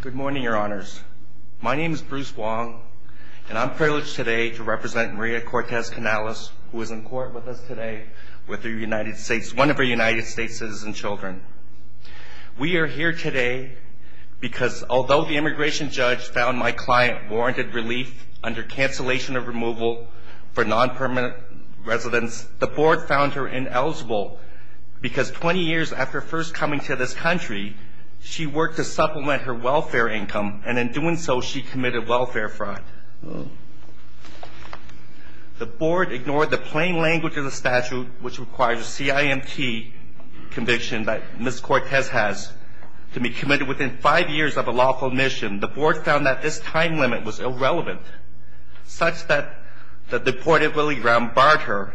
Good morning, your honors. My name is Bruce Wong, and I'm privileged today to represent Maria Cortez Canales, who is in court with us today, with one of our United States citizen children. We are here today because although the immigration judge found my client warranted relief under cancellation of removal for non-permanent residents, the board found her ineligible because 20 years after first coming to this country, she worked to supplement her welfare income, and in doing so, she committed welfare fraud. The board ignored the plain language of the statute, which requires a CIMT conviction that Ms. Cortez has to be committed within five years of a lawful admission. The board found that this time limit was irrelevant, such that the deportability ground barred her.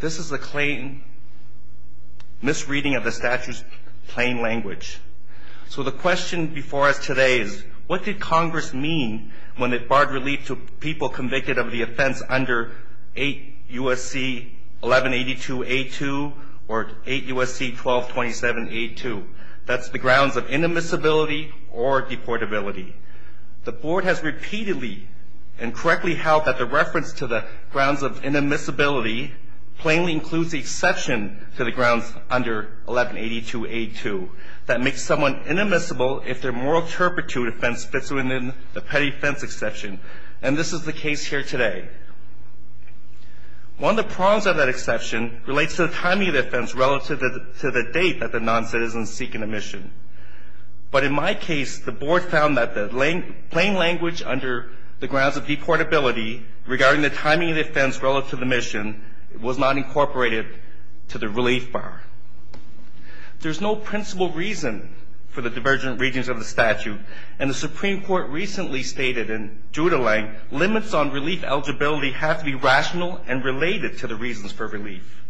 This is a misreading of the statute's plain language. So the question before us today is, what did Congress mean when it barred relief to people convicted of the offense under 8 U.S.C. 1182-A2 or 8 U.S.C. 1227-A2? That's the grounds of inadmissibility or deportability. The board has repeatedly and correctly held that the reference to the grounds of inadmissibility plainly includes the exception to the grounds under 1182-A2 that makes someone inadmissible if their moral turpitude offense fits within the petty offense exception, and this is the case here today. One of the problems of that exception relates to the timing of the offense relative to the date that the noncitizen is seeking admission. But in my case, the board found that the plain language under the grounds of deportability regarding the timing of the offense relative to the admission was not incorporated to the relief bar. There's no principal reason for the divergent readings of the statute, and the Supreme Court recently stated in Duda-Lang, limits on relief eligibility have to be rational and related to the reasons for relief.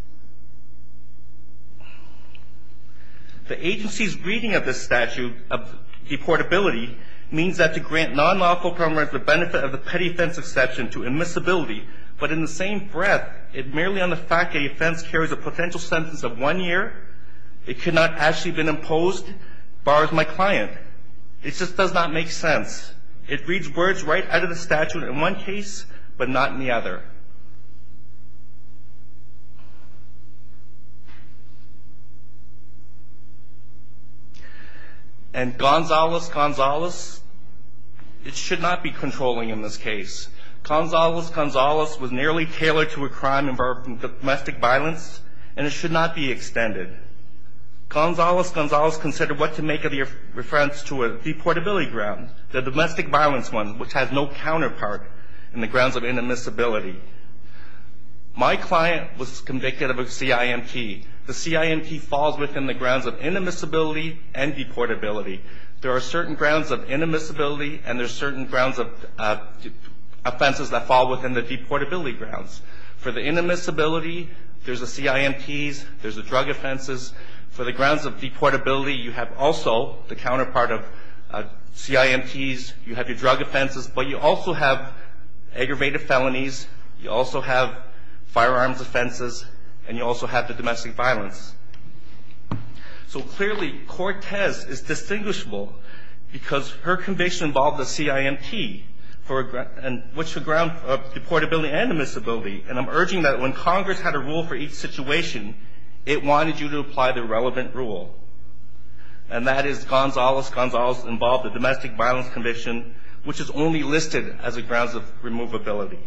The agency's reading of the statute of deportability means that to grant non-lawful permanent benefit of the petty offense exception to admissibility, but in the same breath, it merely on the fact that the offense carries a potential sentence of one year, it could not actually have been imposed, bars my client. It just does not make sense. It reads words right out of the statute in one case, but not in the other. And Gonzalez, Gonzalez, it should not be controlling in this case. Gonzalez, Gonzalez was nearly tailored to a crime involving domestic violence, and it should not be extended. Gonzalez, Gonzalez considered what to make of the reference to a deportability ground, the domestic violence one, which has no counterpart in the grounds of inadmissibility. My client was convicted of a CIMT. The CIMT falls within the grounds of inadmissibility and deportability. There are certain grounds of inadmissibility, and there are certain grounds of offenses that fall within the deportability grounds. For the inadmissibility, there's the CIMTs, there's the drug offenses. For the grounds of deportability, you have also the counterpart of CIMTs, you have your drug offenses, but you also have aggravated felonies, you also have firearms offenses, and you also have the domestic violence. So clearly, Cortez is distinguishable because her conviction involved a CIMT, which is a ground of deportability and inadmissibility. And I'm urging that when Congress had a rule for each situation, it wanted you to apply the relevant rule. And that is Gonzalez, Gonzalez involved the domestic violence conviction, which is only listed as a grounds of removability.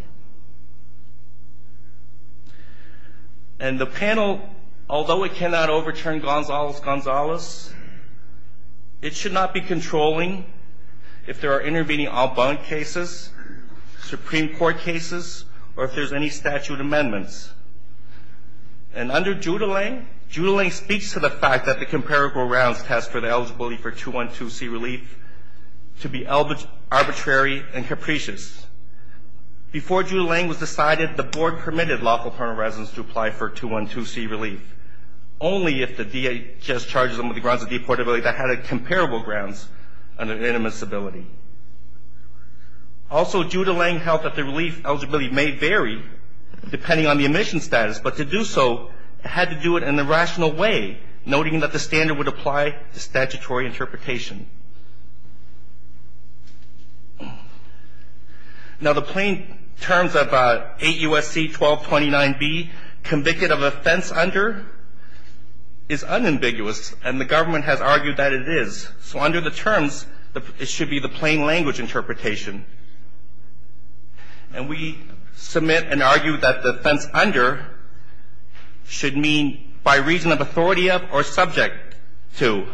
And the panel, although it cannot overturn Gonzalez, Gonzalez, it should not be controlling if there are intervening Albunk cases, Supreme Court cases, or if there's any statute amendments. And under Giudelain, Giudelain speaks to the fact that the comparable rounds test for the eligibility for 212C relief to be arbitrary and capricious. Before Giudelain was decided, the board permitted lawful permanent residents to apply for 212C relief, only if the DHS charges them with the grounds of deportability that had comparable grounds and inadmissibility. Also, Giudelain held that the relief eligibility may vary depending on the admission status, but to do so, it had to do it in a rational way, noting that the standard would apply to statutory interpretation. Now, the plain terms of 8 U.S.C. 1229B, convicted of offense under, is unambiguous, and the government has argued that it is. So under the terms, it should be the plain language interpretation. And we submit and argue that the offense under should mean by reason of authority of or subject to.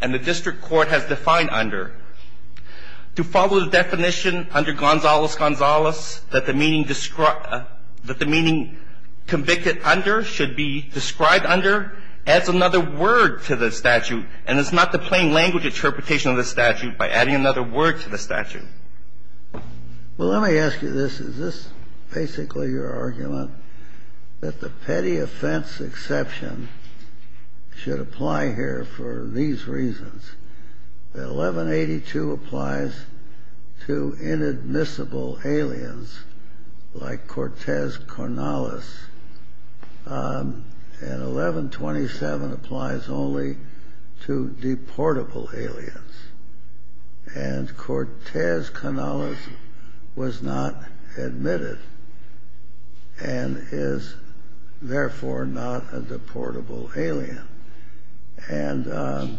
And the district court has defined under. To follow the definition under Gonzales-Gonzales that the meaning described that the meaning convicted under should be described under adds another word to the statute. And it's not the plain language interpretation of the statute by adding another word to the statute. Well, let me ask you this. Is this basically your argument that the petty offense exception should apply here for these reasons? That 1182 applies to inadmissible aliens like Cortez Cornelis, and 1127 applies only to deportable aliens? And Cortez Cornelis was not admitted and is, therefore, not a deportable alien. And the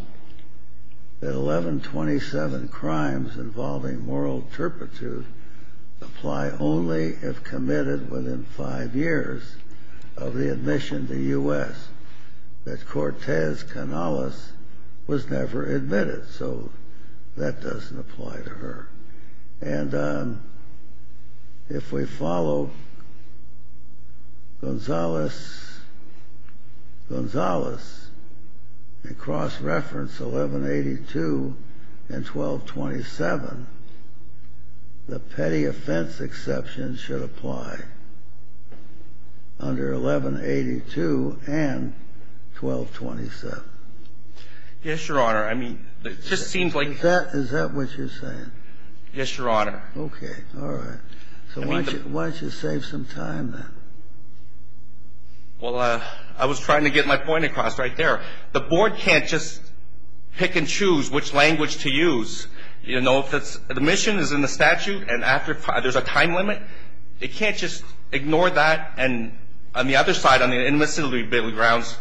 1127 crimes involving moral turpitude apply only if committed within five years of the admission to U.S. that Cortez Cornelis was never admitted. So that doesn't apply to her. And if we follow Gonzales-Gonzales and cross-reference 1182 and 1227, the petty offense exception should apply under 1182 and 1227. Yes, Your Honor. I mean, it just seems like that. Is that what you're saying? Yes, Your Honor. Okay. All right. So why don't you save some time, then? Well, I was trying to get my point across right there. The board can't just pick and choose which language to use. You know, if the admission is in the statute and after there's a time limit, it can't just ignore that And on the other side, on the inadmissibility grounds,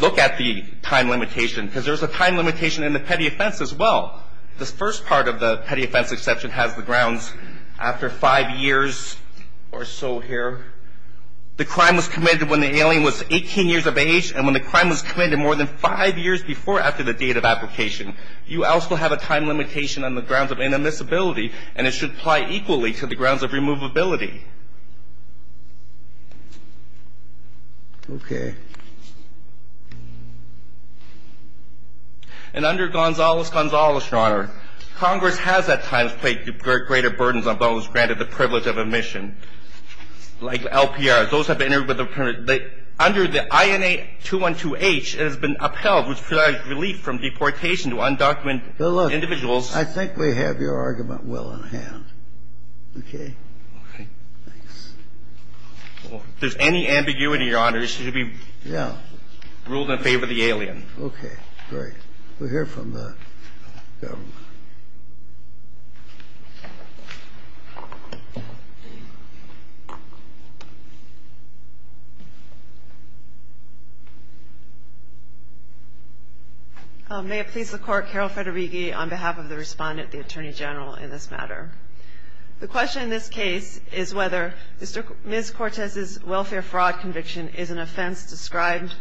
look at the time limitation, because there's a time limitation in the petty offense as well. The first part of the petty offense exception has the grounds, after five years or so here, the crime was committed when the alien was 18 years of age, and when the crime was committed more than five years before after the date of application. You also have a time limitation on the grounds of inadmissibility, and it should apply equally to the grounds of removability. Okay. And under Gonzales-Gonzales, Your Honor, Congress has at times placed greater burdens on those granted the privilege of admission, like LPRs. And under the INA-212H, it has been upheld, which provides relief from deportation to undocumented individuals. I think we have your argument well in hand. Okay? Okay. Thanks. If there's any ambiguity, Your Honor, this should be ruled in favor of the alien. Okay. Great. We'll hear from the government. Thank you. May it please the Court, Carol Federighi, on behalf of the respondent, the Attorney General, in this matter. The question in this case is whether Ms. Cortez's welfare fraud conviction is an offense described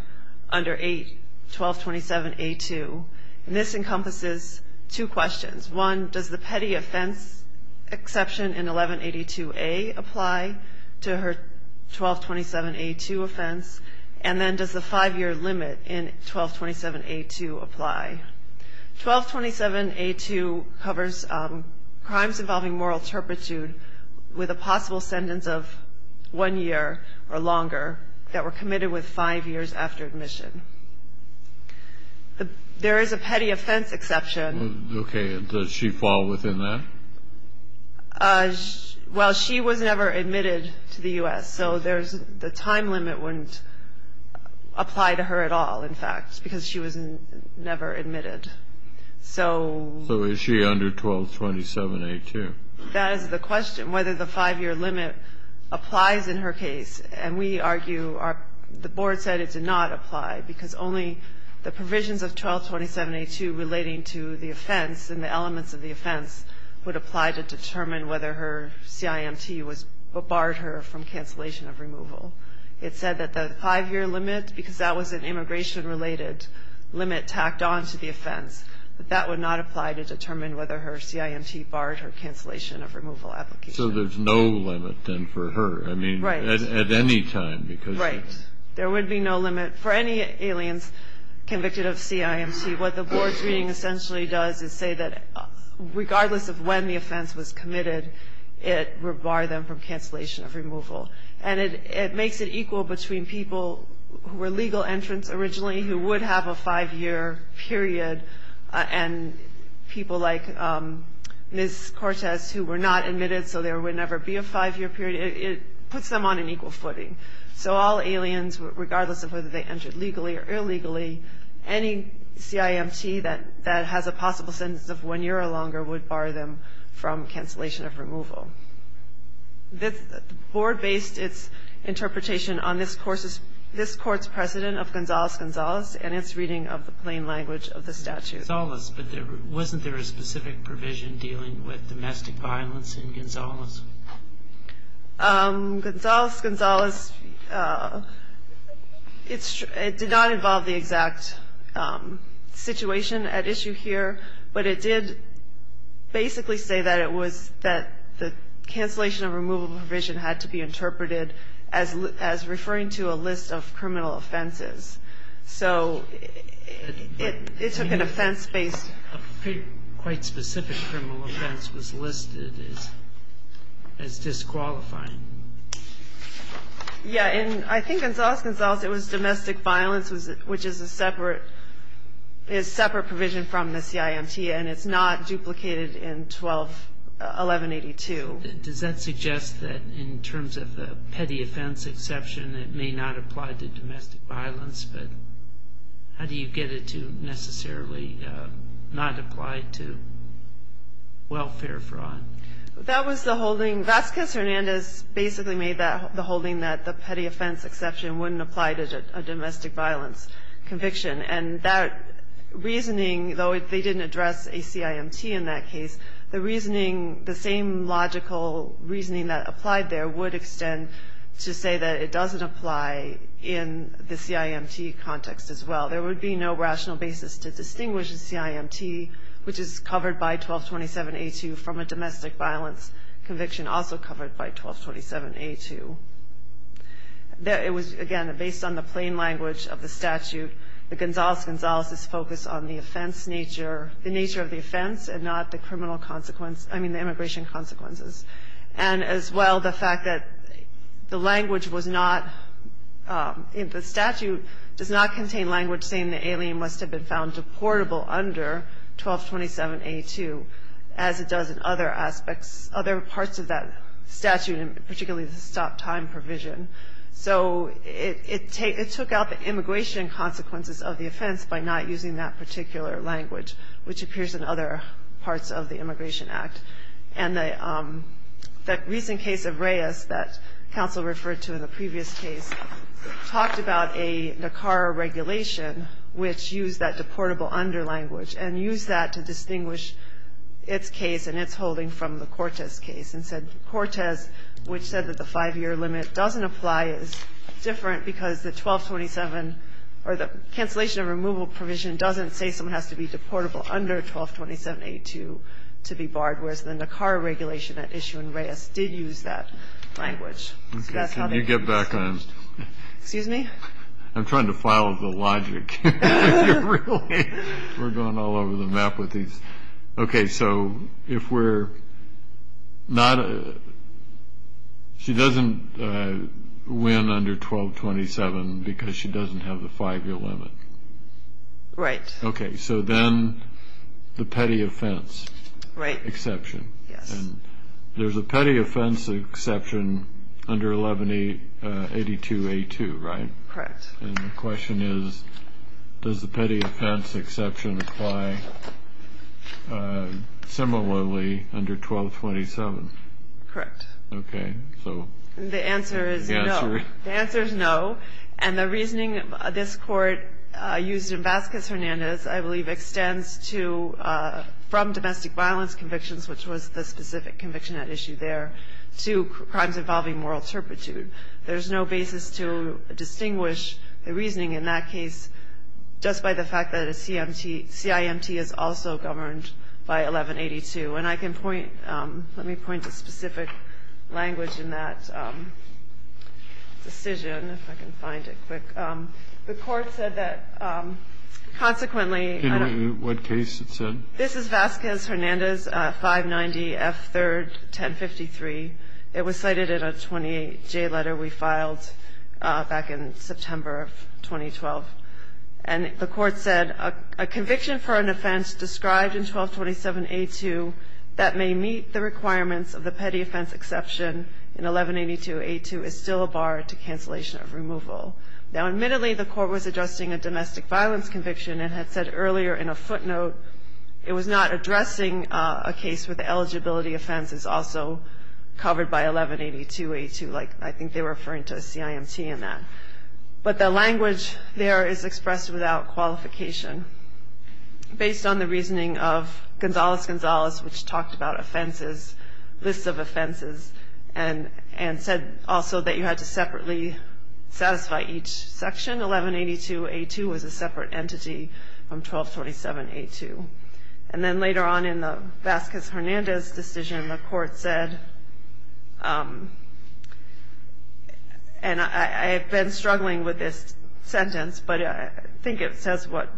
under 81227A2. And this encompasses two questions. One, does the petty offense exception in 1182A apply to her 1227A2 offense? And then, does the five-year limit in 1227A2 apply? 1227A2 covers crimes involving moral turpitude with a possible sentence of one year or longer that were committed with five years after admission. There is a petty offense exception. Okay. Does she fall within that? Well, she was never admitted to the U.S., so the time limit wouldn't apply to her at all, in fact, because she was never admitted. So is she under 1227A2? That is the question, whether the five-year limit applies in her case. And we argue the Board said it did not apply because only the provisions of 1227A2 relating to the offense and the elements of the offense would apply to determine whether her CIMT barred her from cancellation of removal. It said that the five-year limit, because that was an immigration-related limit tacked on to the offense, that that would not apply to determine whether her CIMT barred her cancellation of removal application. So there's no limit, then, for her. At any time. Right. There would be no limit for any aliens convicted of CIMT. What the Board's reading essentially does is say that regardless of when the offense was committed, it would bar them from cancellation of removal. And it makes it equal between people who were legal entrants originally who would have a five-year period and people like Ms. Cortez who were not admitted, so there would never be a five-year period. It puts them on an equal footing. So all aliens, regardless of whether they entered legally or illegally, any CIMT that has a possible sentence of one year or longer would bar them from cancellation of removal. The Board based its interpretation on this Court's precedent of Gonzales-Gonzales and its reading of the plain language of the statute. Gonzales, but wasn't there a specific provision dealing with domestic violence in Gonzales? Gonzales-Gonzales, it did not involve the exact situation at issue here, but it did basically say that it was that the cancellation of removal provision had to be interpreted as referring to a list of criminal offenses. So it took an offense-based... A quite specific criminal offense was listed as disqualifying. Yeah, and I think Gonzales-Gonzales, it was domestic violence, which is a separate provision from the CIMT, and it's not duplicated in 1182. Does that suggest that in terms of a petty offense exception, it may not apply to domestic violence, but how do you get it to necessarily not apply to welfare fraud? That was the holding. Vasquez-Hernandez basically made the holding that the petty offense exception wouldn't apply to a domestic violence conviction. And that reasoning, though they didn't address a CIMT in that case, the reasoning, the same logical reasoning that applied there would extend to say that it doesn't apply in the CIMT context as well. There would be no rational basis to distinguish the CIMT, which is covered by 1227A2, from a domestic violence conviction also covered by 1227A2. It was, again, based on the plain language of the statute. The Gonzales-Gonzales is focused on the offense nature, the nature of the offense and not the criminal consequence, I mean the immigration consequences. And as well the fact that the language was not, the statute does not contain language saying the alien must have been found deportable under 1227A2 as it does in other aspects, other parts of that statute, particularly the stop time provision. So it took out the immigration consequences of the offense by not using that particular language, which appears in other parts of the Immigration Act. And the recent case of Reyes that counsel referred to in the previous case talked about a NACAR regulation which used that deportable under language and used that to distinguish its case and its holding from the Cortez case and said Cortez, which said that the 5-year limit doesn't apply is different because the 1227 or the cancellation of removal provision doesn't say someone has to be deportable under 1227A2 to be barred, whereas the NACAR regulation at issue in Reyes did use that language. So that's how they used it. Excuse me? I'm trying to follow the logic. We're going all over the map with these. Okay. So if we're not – she doesn't win under 1227 because she doesn't have the 5-year limit. Right. Okay. So then the petty offense exception. Yes. And there's a petty offense exception under 1182A2, right? Correct. And the question is, does the petty offense exception apply similarly under 1227? Correct. Okay. The answer is no. The answer is no. And the reasoning this Court used in Vasquez-Hernandez, I believe, extends from domestic violence convictions, which was the specific conviction at issue there, to crimes involving moral turpitude. There's no basis to distinguish the reasoning in that case just by the fact that a CIMT is also governed by 1182. And I can point – let me point to specific language in that decision, if I can find it quick. The Court said that consequently – In what case it said? This is Vasquez-Hernandez, 590F3, 1053. It was cited in a 28J letter we filed back in September of 2012. And the Court said, A conviction for an offense described in 1227A2 that may meet the requirements of the petty offense exception in 1182A2 is still a bar to cancellation of removal. Now, admittedly, the Court was addressing a domestic violence conviction and had said earlier in a footnote it was not addressing a case where the eligibility offense is also covered by 1182A2. Like, I think they were referring to a CIMT in that. But the language there is expressed without qualification. Based on the reasoning of Gonzales-Gonzales, which talked about offenses, lists of offenses, and said also that you had to separately satisfy each section, 1182A2 was a separate entity from 1227A2. And then later on in the Vasquez-Hernandez decision, the Court said – and I have been struggling with this sentence, but I think it says what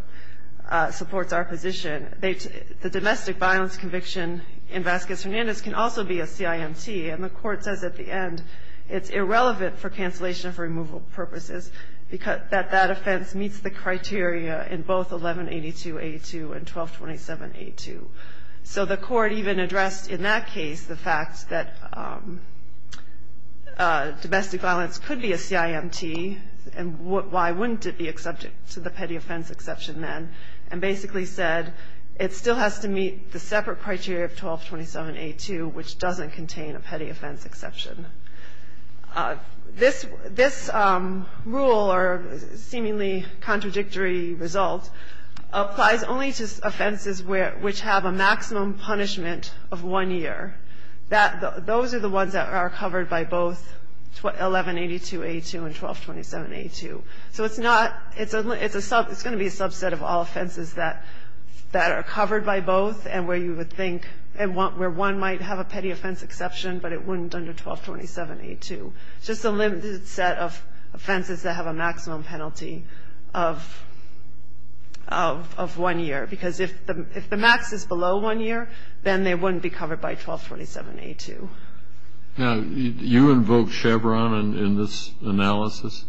supports our position. The domestic violence conviction in Vasquez-Hernandez can also be a CIMT, and the Court says at the end it's irrelevant for cancellation for removal purposes that that offense meets the criteria in both 1182A2 and 1227A2. So the Court even addressed in that case the fact that domestic violence could be a CIMT, and why wouldn't it be subject to the petty offense exception then, and basically said it still has to meet the separate criteria of 1227A2, which doesn't contain a petty offense exception. This rule, or seemingly contradictory result, applies only to offenses which have a maximum punishment of one year. Those are the ones that are covered by both 1182A2 and 1227A2. So it's not – it's going to be a subset of all offenses that are covered by both and where you would think – where one might have a petty offense exception, but it wouldn't under 1227A2. It's just a limited set of offenses that have a maximum penalty of one year, because if the max is below one year, then they wouldn't be covered by 1227A2. Now, you invoked Chevron in this analysis?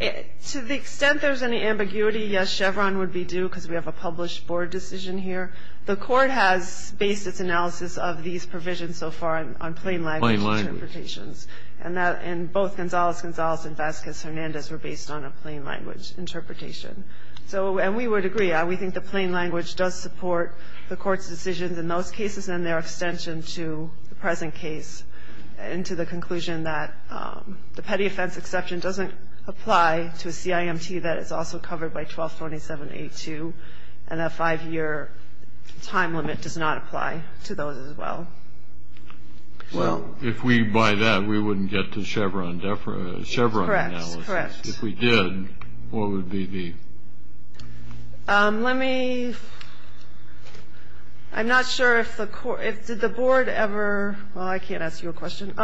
To the extent there's any ambiguity, yes, Chevron would be due because we have a published board decision here. The Court has based its analysis of these provisions so far on plain language interpretations. And both Gonzalez-Gonzalez and Vasquez-Hernandez were based on a plain language interpretation. So, and we would agree. We think the plain language does support the Court's decisions in those cases and their extension to the present case and to the conclusion that the petty offense exception doesn't apply to a CIMT that is also covered by 1227A2 and a five-year time limit does not apply to those as well. Well, if we buy that, we wouldn't get to Chevron analysis. Correct, correct. If we did, what would be the? Let me – I'm not sure if the – did the Board ever – well, I can't ask you a question.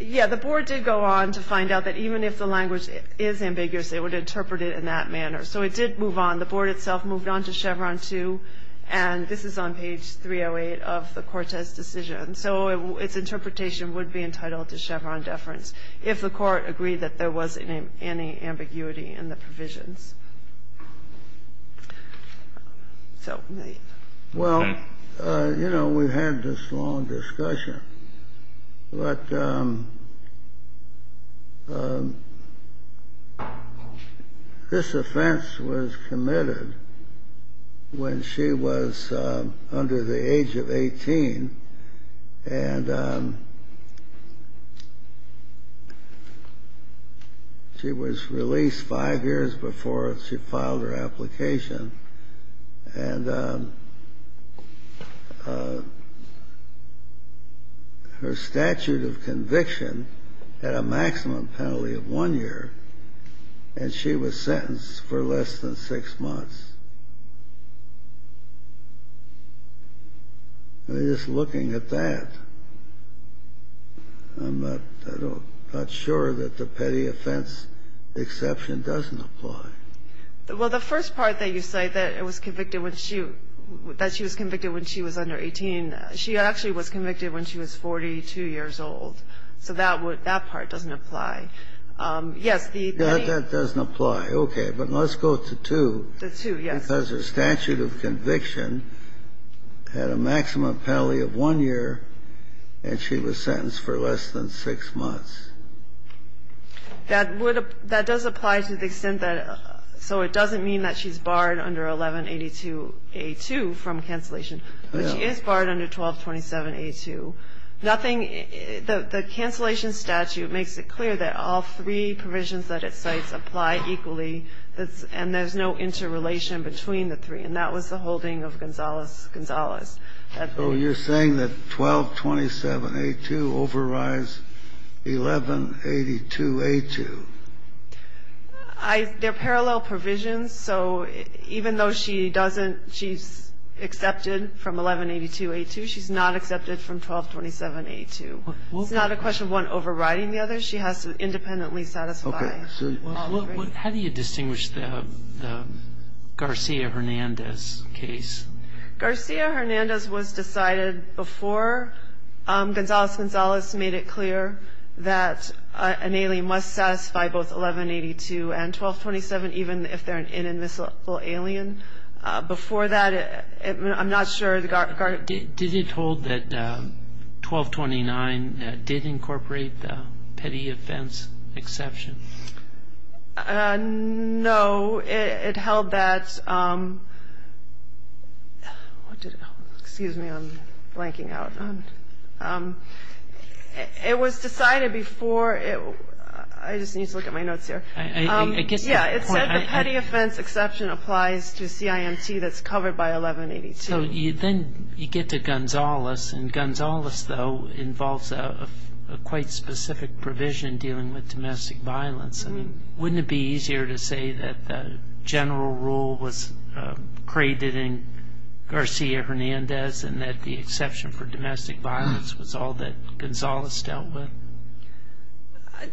Yeah, the Board did go on to find out that even if the language is ambiguous, it would interpret it in that manner. So it did move on. The Board itself moved on to Chevron 2, and this is on page 308 of the Court's decision. So its interpretation would be entitled to Chevron deference if the Court agreed that there was any ambiguity in the provisions. Well, you know, we've had this long discussion, but this offense was committed when she was under the age of 18, and she was released five years before she was released before she filed her application. And her statute of conviction had a maximum penalty of one year, and she was sentenced for less than six months. I mean, just looking at that, I'm not – I'm not sure that the petty offense exception doesn't apply. Well, the first part that you cite, that it was convicted when she – that she was convicted when she was under 18, she actually was convicted when she was 42 years old. So that would – that part doesn't apply. Yes, the petty – That doesn't apply. Okay. But let's go to 2. The 2, yes. Because her statute of conviction had a maximum penalty of one year, and she was sentenced for less than six months. That would – that does apply to the extent that – so it doesn't mean that she's barred under 1182A2 from cancellation. But she is barred under 1227A2. Nothing – the cancellation statute makes it clear that all three provisions that it cites apply equally, and there's no interrelation between the three. And that was the holding of Gonzalez-Gonzalez. So you're saying that 1227A2 overrides 1182A2. I – they're parallel provisions. So even though she doesn't – she's accepted from 1182A2, she's not accepted from 1227A2. It's not a question of one overriding the other. She has to independently satisfy all three. How do you distinguish the Garcia-Hernandez case? Garcia-Hernandez was decided before Gonzalez-Gonzalez made it clear that an alien must satisfy both 1182 and 1227, even if they're an inadmissible alien. Before that, I'm not sure the – Did it hold that 1229 did incorporate the petty offense exception? No. It held that – what did it hold? Excuse me. I'm blanking out. It was decided before – I just need to look at my notes here. I get that point. Yeah. It said the petty offense exception applies to CIMT that's covered by 1182. So then you get to Gonzalez, and Gonzalez, though, involves a quite specific provision dealing with domestic violence. Wouldn't it be easier to say that the general rule was created in Garcia-Hernandez and that the exception for domestic violence was all that Gonzalez dealt with?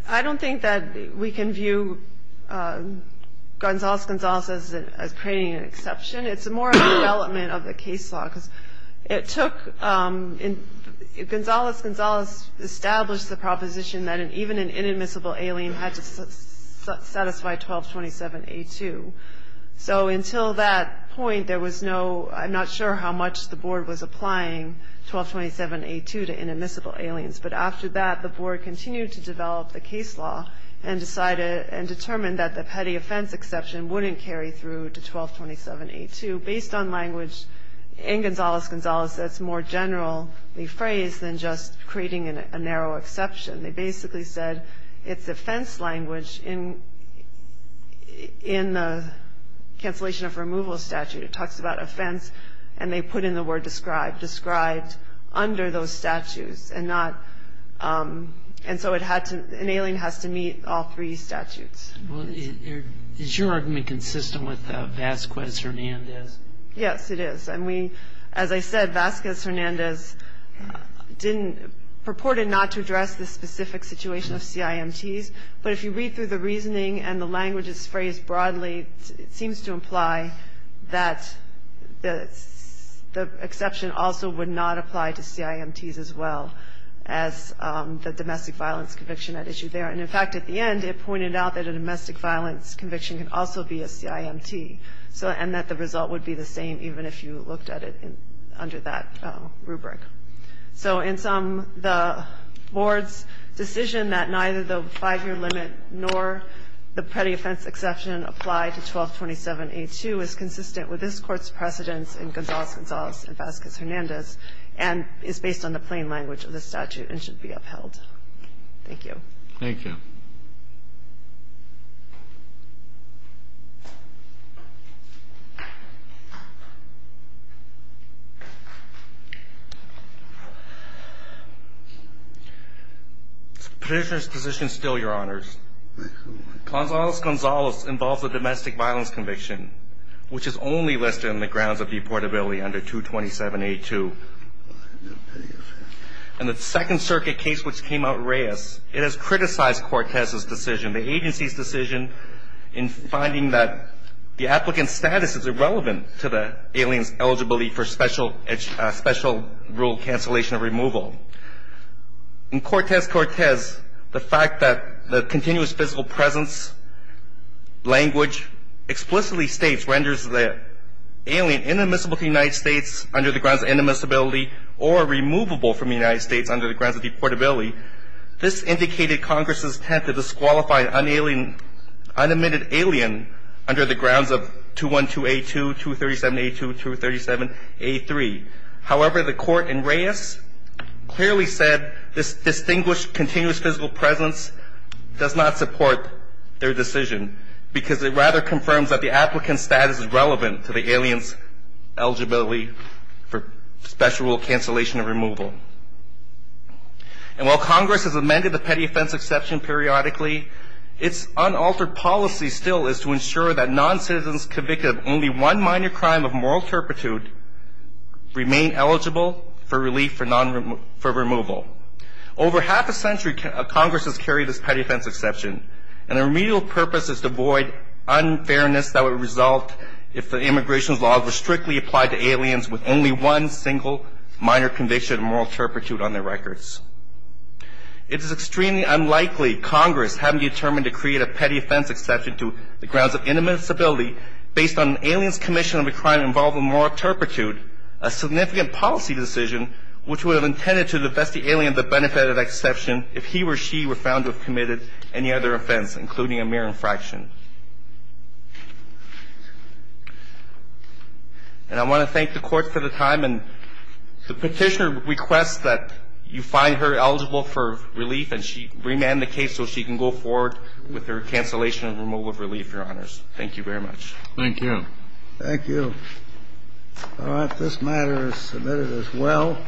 I don't think that we can view Gonzalez-Gonzalez as creating an exception. It's more of a development of the case law because it took – Gonzalez-Gonzalez established the proposition that even an inadmissible alien had to satisfy 1227A2. So until that point, there was no – I'm not sure how much the board was applying 1227A2 to inadmissible aliens. But after that, the board continued to develop the case law and determined that the petty offense exception wouldn't carry through to 1227A2. And based on language in Gonzalez-Gonzalez that's more generally phrased than just creating a narrow exception, they basically said it's offense language in the cancellation of removal statute. It talks about offense, and they put in the word described, described under those statutes and not – and so it had to – an alien has to meet all three statutes. Is your argument consistent with Vasquez-Hernandez? Yes, it is. And we – as I said, Vasquez-Hernandez didn't – purported not to address the specific situation of CIMTs. But if you read through the reasoning and the language is phrased broadly, it seems to imply that the exception also would not apply to CIMTs as well as the domestic violence conviction at issue there. And, in fact, at the end it pointed out that a domestic violence conviction can also be a CIMT, and that the result would be the same even if you looked at it under that rubric. So in sum, the board's decision that neither the 5-year limit nor the petty offense exception apply to 1227A2 is consistent with this Court's precedence in Gonzalez-Gonzalez and Vasquez-Hernandez and is based on the plain language of the statute and should be upheld. Thank you. Thank you. The petitioner's position is still, Your Honors. Gonzalez-Gonzalez involves a domestic violence conviction, which is only listed on the grounds of deportability under 227A2. In the Second Circuit case which came out in Reyes, it has criticized Cortez's decision, the agency's decision, in finding that the applicant's status is irrelevant to the alien's eligibility for special rule cancellation or removal. In Cortez-Cortez, the fact that the continuous physical presence language explicitly states, renders the alien inadmissible to the United States under the grounds of inadmissibility or removable from the United States under the grounds of deportability. This indicated Congress's attempt to disqualify an unalien unadmitted alien under the grounds of 212A2, 237A2, 237A3. However, the Court in Reyes clearly said this distinguished continuous physical presence does not support their decision because it rather confirms that the applicant's status is relevant to the alien's eligibility for special rule cancellation or removal. And while Congress has amended the petty offense exception periodically, its unaltered policy still is to ensure that noncitizens convicted of only one minor crime of moral turpitude remain eligible for relief for removal. Over half a century, Congress has carried this petty offense exception, and the remedial purpose is to avoid unfairness that would result if the immigration laws were strictly applied to aliens with only one single minor conviction of moral turpitude on their records. It is extremely unlikely Congress hadn't determined to create a petty offense exception to the grounds of inadmissibility based on an alien's commission of a crime involving moral turpitude, a significant policy decision which would have intended to divest the alien of the benefit of that exception if he or she were found to have committed any other offense, including a mere infraction. And I want to thank the Court for the time. And the Petitioner requests that you find her eligible for relief, and she remanded the case so she can go forward with her cancellation and removal of relief, Your Honors. Thank you very much. Thank you. Thank you. All right. This matter is submitted as well.